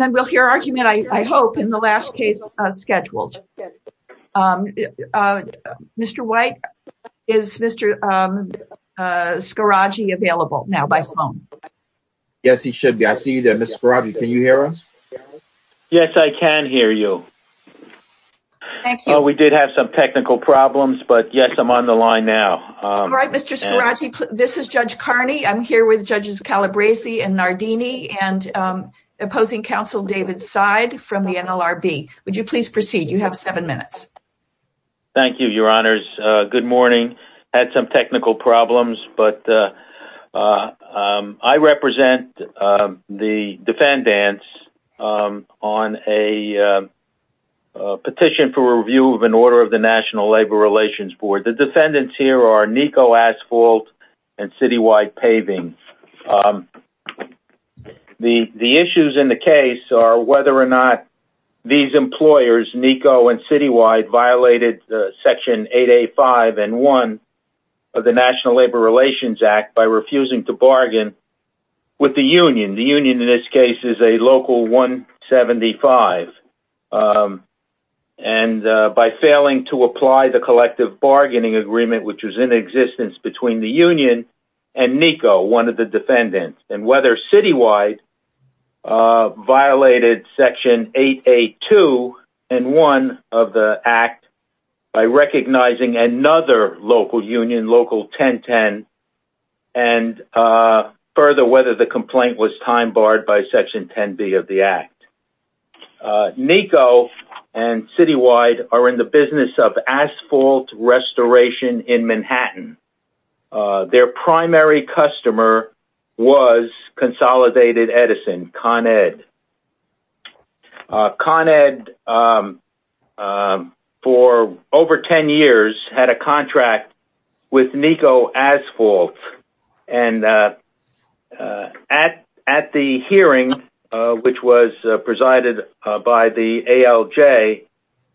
And then we'll hear argument, I hope, in the last case scheduled. Mr. White, is Mr. Scaraggi available now by phone? Yes, he should be. I see you there, Mr. Scaraggi. Can you hear us? Yes, I can hear you. Thank you. We did have some technical problems, but yes, I'm on the line now. All right, Mr. Scaraggi, this is Judge Carney. I'm here with Judges Calabresi and Nardini and opposing counsel David Seid from the NLRB. Would you please proceed? You have seven minutes. Thank you, Your Honors. Good morning. I had some technical problems, but I represent the defendants on a petition for review of an order of the National Labor Relations Board. The defendants here are Nico Asphalt and Citywide Paving. The issues in the case are whether or not these employers, Nico and Citywide, violated Section 885 and 1 of the National Labor Relations Act by refusing to bargain with the union. The union, in this case, is a Local 175. And by failing to apply the collective bargaining agreement, which was in existence between the union and Nico, one of the defendants, and whether Citywide violated Section 882 and 1 of the act by recognizing another local union, Local 1010, and further, whether the complaint was time barred by Section 10B of the act. Nico and Citywide are in the business of asphalt restoration in Manhattan. Their primary customer was Consolidated Edison, Con Ed. Con Ed, for over 10 years, had a contract with Nico Asphalt. And at the hearing, which was presided by the ALJ,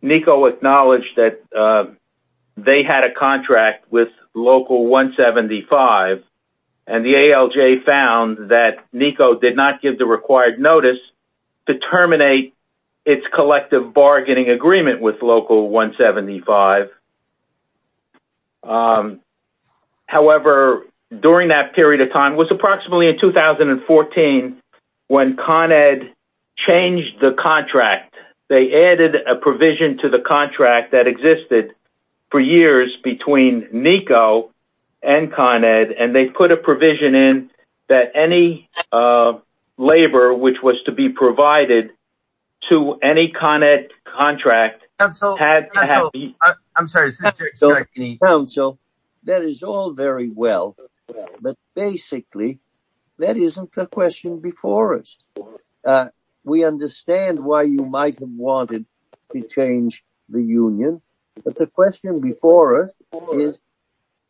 Nico acknowledged that they had a contract with Local 175. And the ALJ found that Nico did not give the required notice to terminate its collective bargaining agreement with Local 175. However, during that period of time, it was approximately in 2014 when Con Ed changed the contract. They added a provision to the contract that existed for years between Nico and Con Ed. And they put a provision in that any labor, which was to be provided to any Con Ed contract, had to have... I'm sorry. Council, that is all very well. But basically, that isn't the question before us. We understand why you might have wanted to change the union. But the question before us is,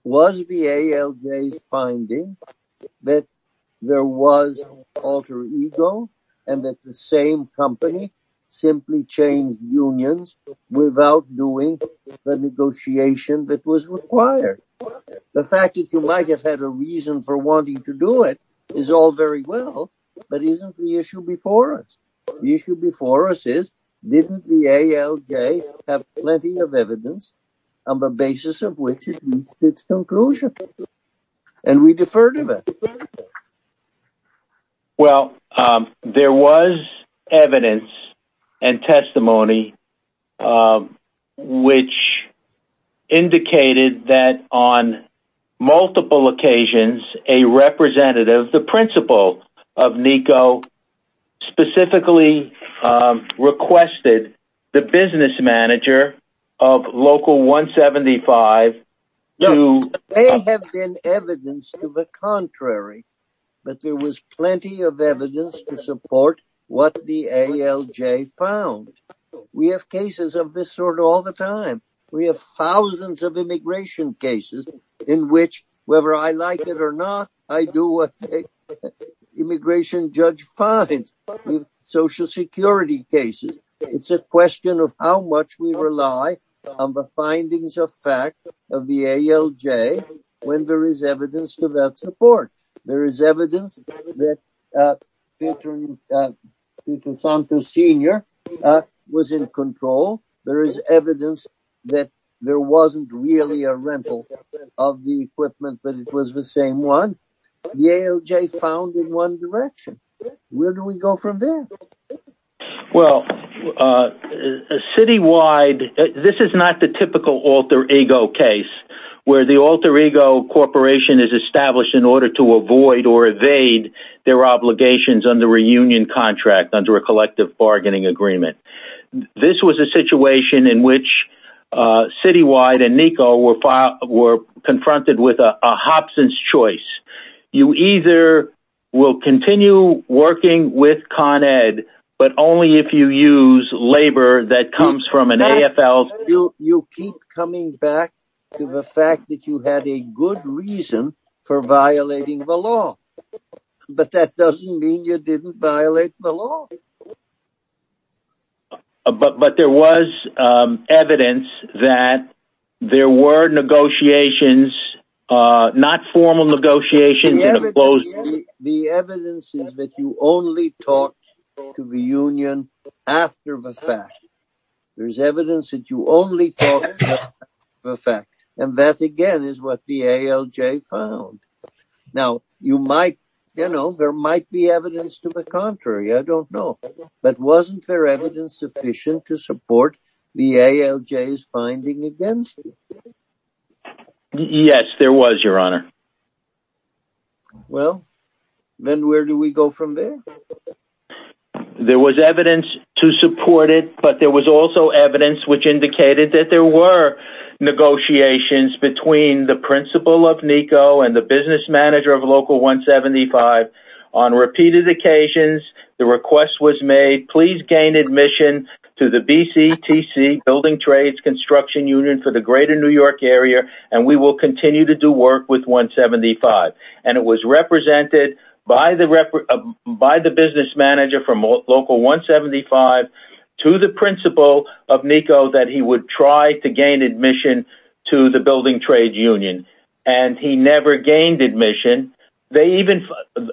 was the ALJ's finding that there was alter ego, and that the same company simply changed unions without doing the negotiation that was required? The fact that you might have had a reason for wanting to do it is all very well. But isn't the issue before us? The issue before us is, didn't the ALJ have plenty of evidence on the basis of which it reached its conclusion? And we defer to that. Well, there was evidence and testimony which indicated that on multiple occasions, a representative, the principal of Nico, specifically requested the business manager of Local 175 to... But there was plenty of evidence to support what the ALJ found. We have cases of this sort all the time. We have thousands of immigration cases in which, whether I like it or not, I do what an immigration judge finds. We have social security cases. It's a question of how much we rely on the findings of fact of the ALJ when there is evidence to that support. There is evidence that Peter Santos Sr. was in control. There is evidence that there wasn't really a rental of the equipment, but it was the same one. The ALJ found in one direction. Where do we go from there? Well, citywide, this is not the typical alter ego case, where the alter ego corporation is established in order to avoid or evade their obligations under a reunion contract, under a collective bargaining agreement. This was a situation in which citywide and Nico were confronted with a Hobson's choice. You either will continue working with Con Ed, but only if you use labor that comes from an AFL... You keep coming back to the fact that you had a good reason for violating the law. But that doesn't mean you didn't violate the law. But there was evidence that there were negotiations, not formal negotiations... The evidence is that you only talked to the union after the fact. There is evidence that you only talked after the fact. And that again is what the ALJ found. Now, you might, you know, there might be evidence to the contrary. I don't know. But wasn't there evidence sufficient to support the ALJ's finding against you? Yes, there was, your honor. Well, then where do we go from there? There was evidence to support it, but there was also evidence which indicated that there were negotiations between the principal of Nico and the business manager of Local 175. On repeated occasions, the request was made, please gain admission to the BCTC, Building Trades Construction Union for the greater New York area, and we will continue to do work with 175. And it was represented by the business manager from Local 175 to the principal of Nico that he would try to gain admission to the Building Trade Union. And he never gained admission. The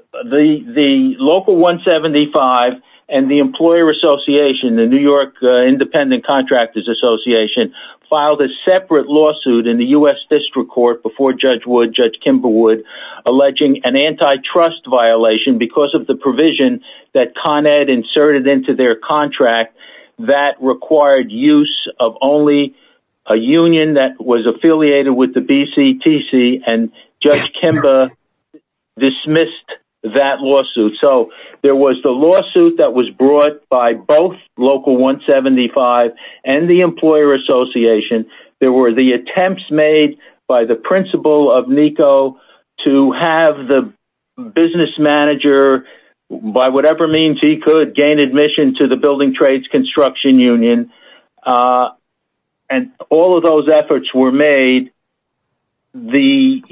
Local 175 and the Employer Association, the New York Independent Contractors Association, filed a separate lawsuit in the U.S. District Court before Judge Wood, Judge Kimber Wood, alleging an antitrust violation because of the provision that Con Ed inserted into their contract that required use of only a union that was affiliated with the BCTC, and Judge Kimber dismissed that lawsuit. So there was the lawsuit that was brought by both Local 175 and the Employer Association. There were the attempts made by the principal of Nico to have the business manager, by whatever means he could, gain admission to the Building Trades Construction Union, and all of those efforts were made. Nico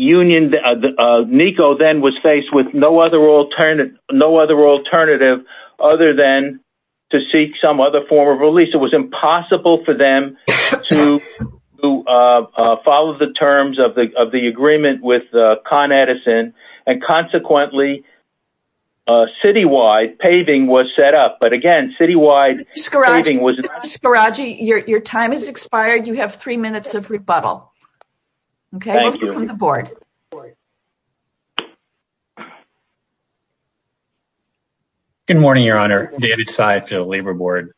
then was faced with no other alternative other than to seek some other form of release. It was impossible for them to follow the terms of the agreement with Con Edison, and, consequently, citywide paving was set up. But, again, citywide paving was not set up. Mr. Scaraggi, your time has expired. You have three minutes of rebuttal. Okay, we'll go to the board. Good morning, Your Honor. David Sy to the Labor Board.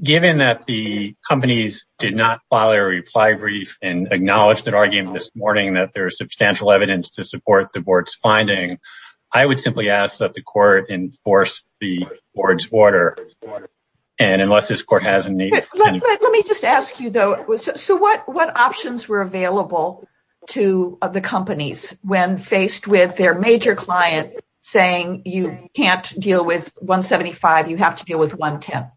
Given that the companies did not file a reply brief and acknowledged their argument this morning that there is substantial evidence to support the board's finding, I would simply ask that the court enforce the board's order, and unless this court has a need. Let me just ask you, though, so what options were available to the companies when faced with their major client saying you can't deal with 175, you have to deal with 110?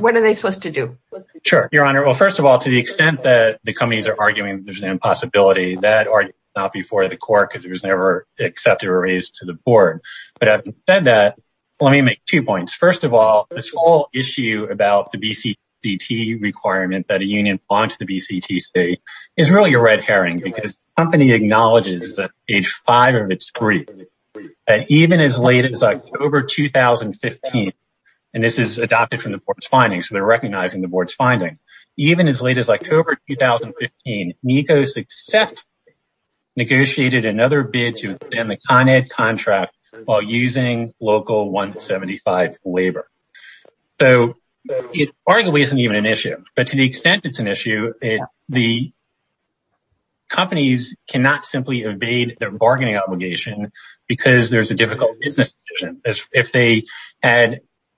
What are they supposed to do? Sure, Your Honor. Well, first of all, to the extent that the companies are arguing there's an impossibility, that argument is not before the court because it was never accepted or raised to the board. But having said that, let me make two points. First of all, this whole issue about the BCT requirement that a union bond to the BCT state is really a red herring because the company acknowledges at age five of its brief that even as late as October 2015, and this is adopted from the board's findings, so they're recognizing the board's finding, even as late as October 2015, NECO successfully negotiated another bid to extend the Con Ed contract while using local 175 labor. So it arguably isn't even an issue, but to the extent it's an issue, the companies cannot simply evade their bargaining obligation because there's a difficult business decision.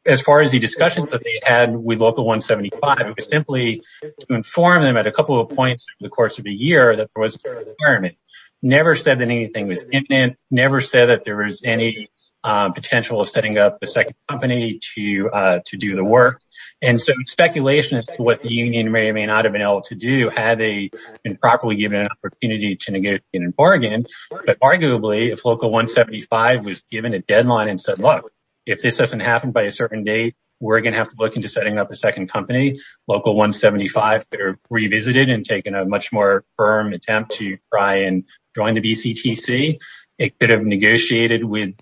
As far as the discussions that they had with local 175, it was simply to inform them at a couple of points over the course of the year that there was a requirement. Never said that anything was imminent. Never said that there was any potential of setting up a second company to do the work. And so speculation as to what the union may or may not have been able to do had they been properly given an opportunity to negotiate and bargain. But arguably, if local 175 was given a deadline and said, look, if this doesn't happen by a certain date, we're going to have to look into setting up a second company. Local 175 revisited and taken a much more firm attempt to try and join the BCTC. It could have negotiated with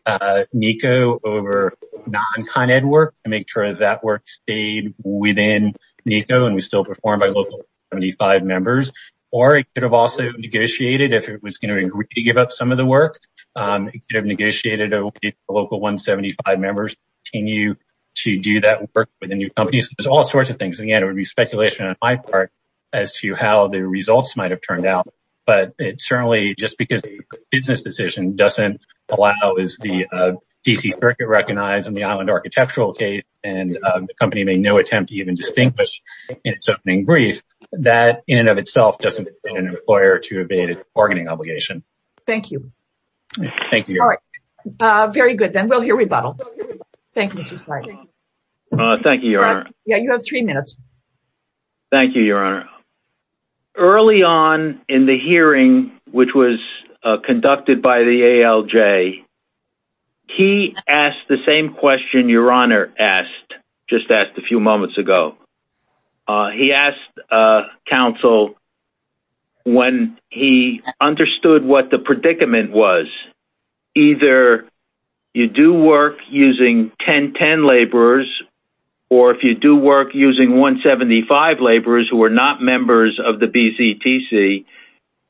NECO over non-Con Ed work to make sure that work stayed within NECO and was still performed by local 175 members. Or it could have also negotiated if it was going to agree to give up some of the work. It could have negotiated with local 175 members to continue to do that work with the new companies. There's all sorts of things. And again, it would be speculation on my part as to how the results might have turned out. But it certainly just because the business decision doesn't allow, as the D.C. Circuit recognized in the island architectural case, and the company made no attempt to even distinguish in its opening brief, that in and of itself doesn't require to abate bargaining obligation. Thank you. Thank you. Very good. Then we'll hear rebuttal. Thank you. Thank you. Yeah, you have three minutes. Thank you, Your Honor. Early on in the hearing, which was conducted by the ALJ. He asked the same question Your Honor asked, just asked a few moments ago. He asked counsel. When he understood what the predicament was, either you do work using 1010 laborers or if you do work using 175 laborers who are not members of the B.C.T.C.,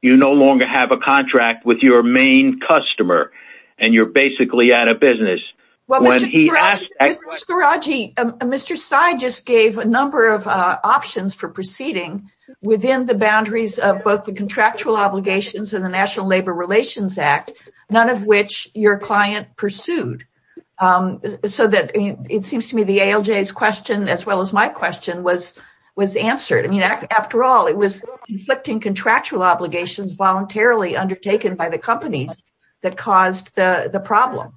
you no longer have a contract with your main customer and you're basically out of business. Mr. Scoraggi, Mr. Sy just gave a number of options for proceeding within the boundaries of both the contractual obligations and the National Labor Relations Act, none of which your client pursued so that it seems to me the ALJ's question, as well as my question, was was answered. I mean, after all, it was inflicting contractual obligations voluntarily undertaken by the companies that caused the problem.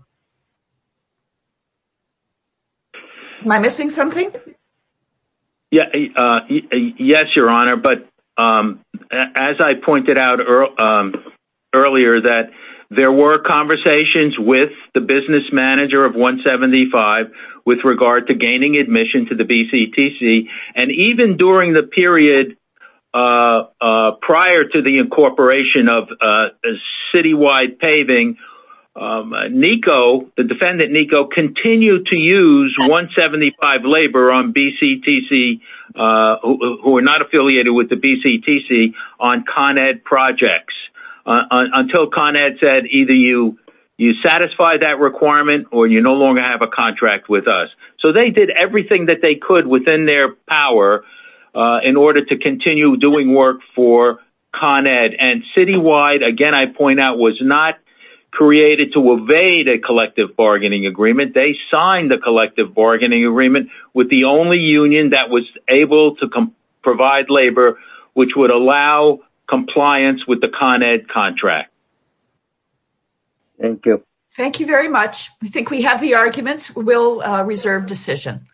Am I missing something? Yes, Your Honor. But as I pointed out earlier that there were conversations with the business manager of 175 with regard to gaining admission to the B.C.T.C. and even during the period prior to the incorporation of citywide paving, NICO, the defendant NICO, continued to use 175 labor on B.C.T.C. who were not affiliated with the B.C.T.C. on Con Ed projects until Con Ed said either you you satisfy that requirement or you no longer have a contract with us. So they did everything that they could within their power in order to continue doing work for Con Ed. And citywide, again, I point out, was not created to evade a collective bargaining agreement. They signed the collective bargaining agreement with the only union that was able to provide labor, which would allow compliance with the Con Ed contract. Thank you. Thank you very much. I think we have the arguments. We'll reserve decision.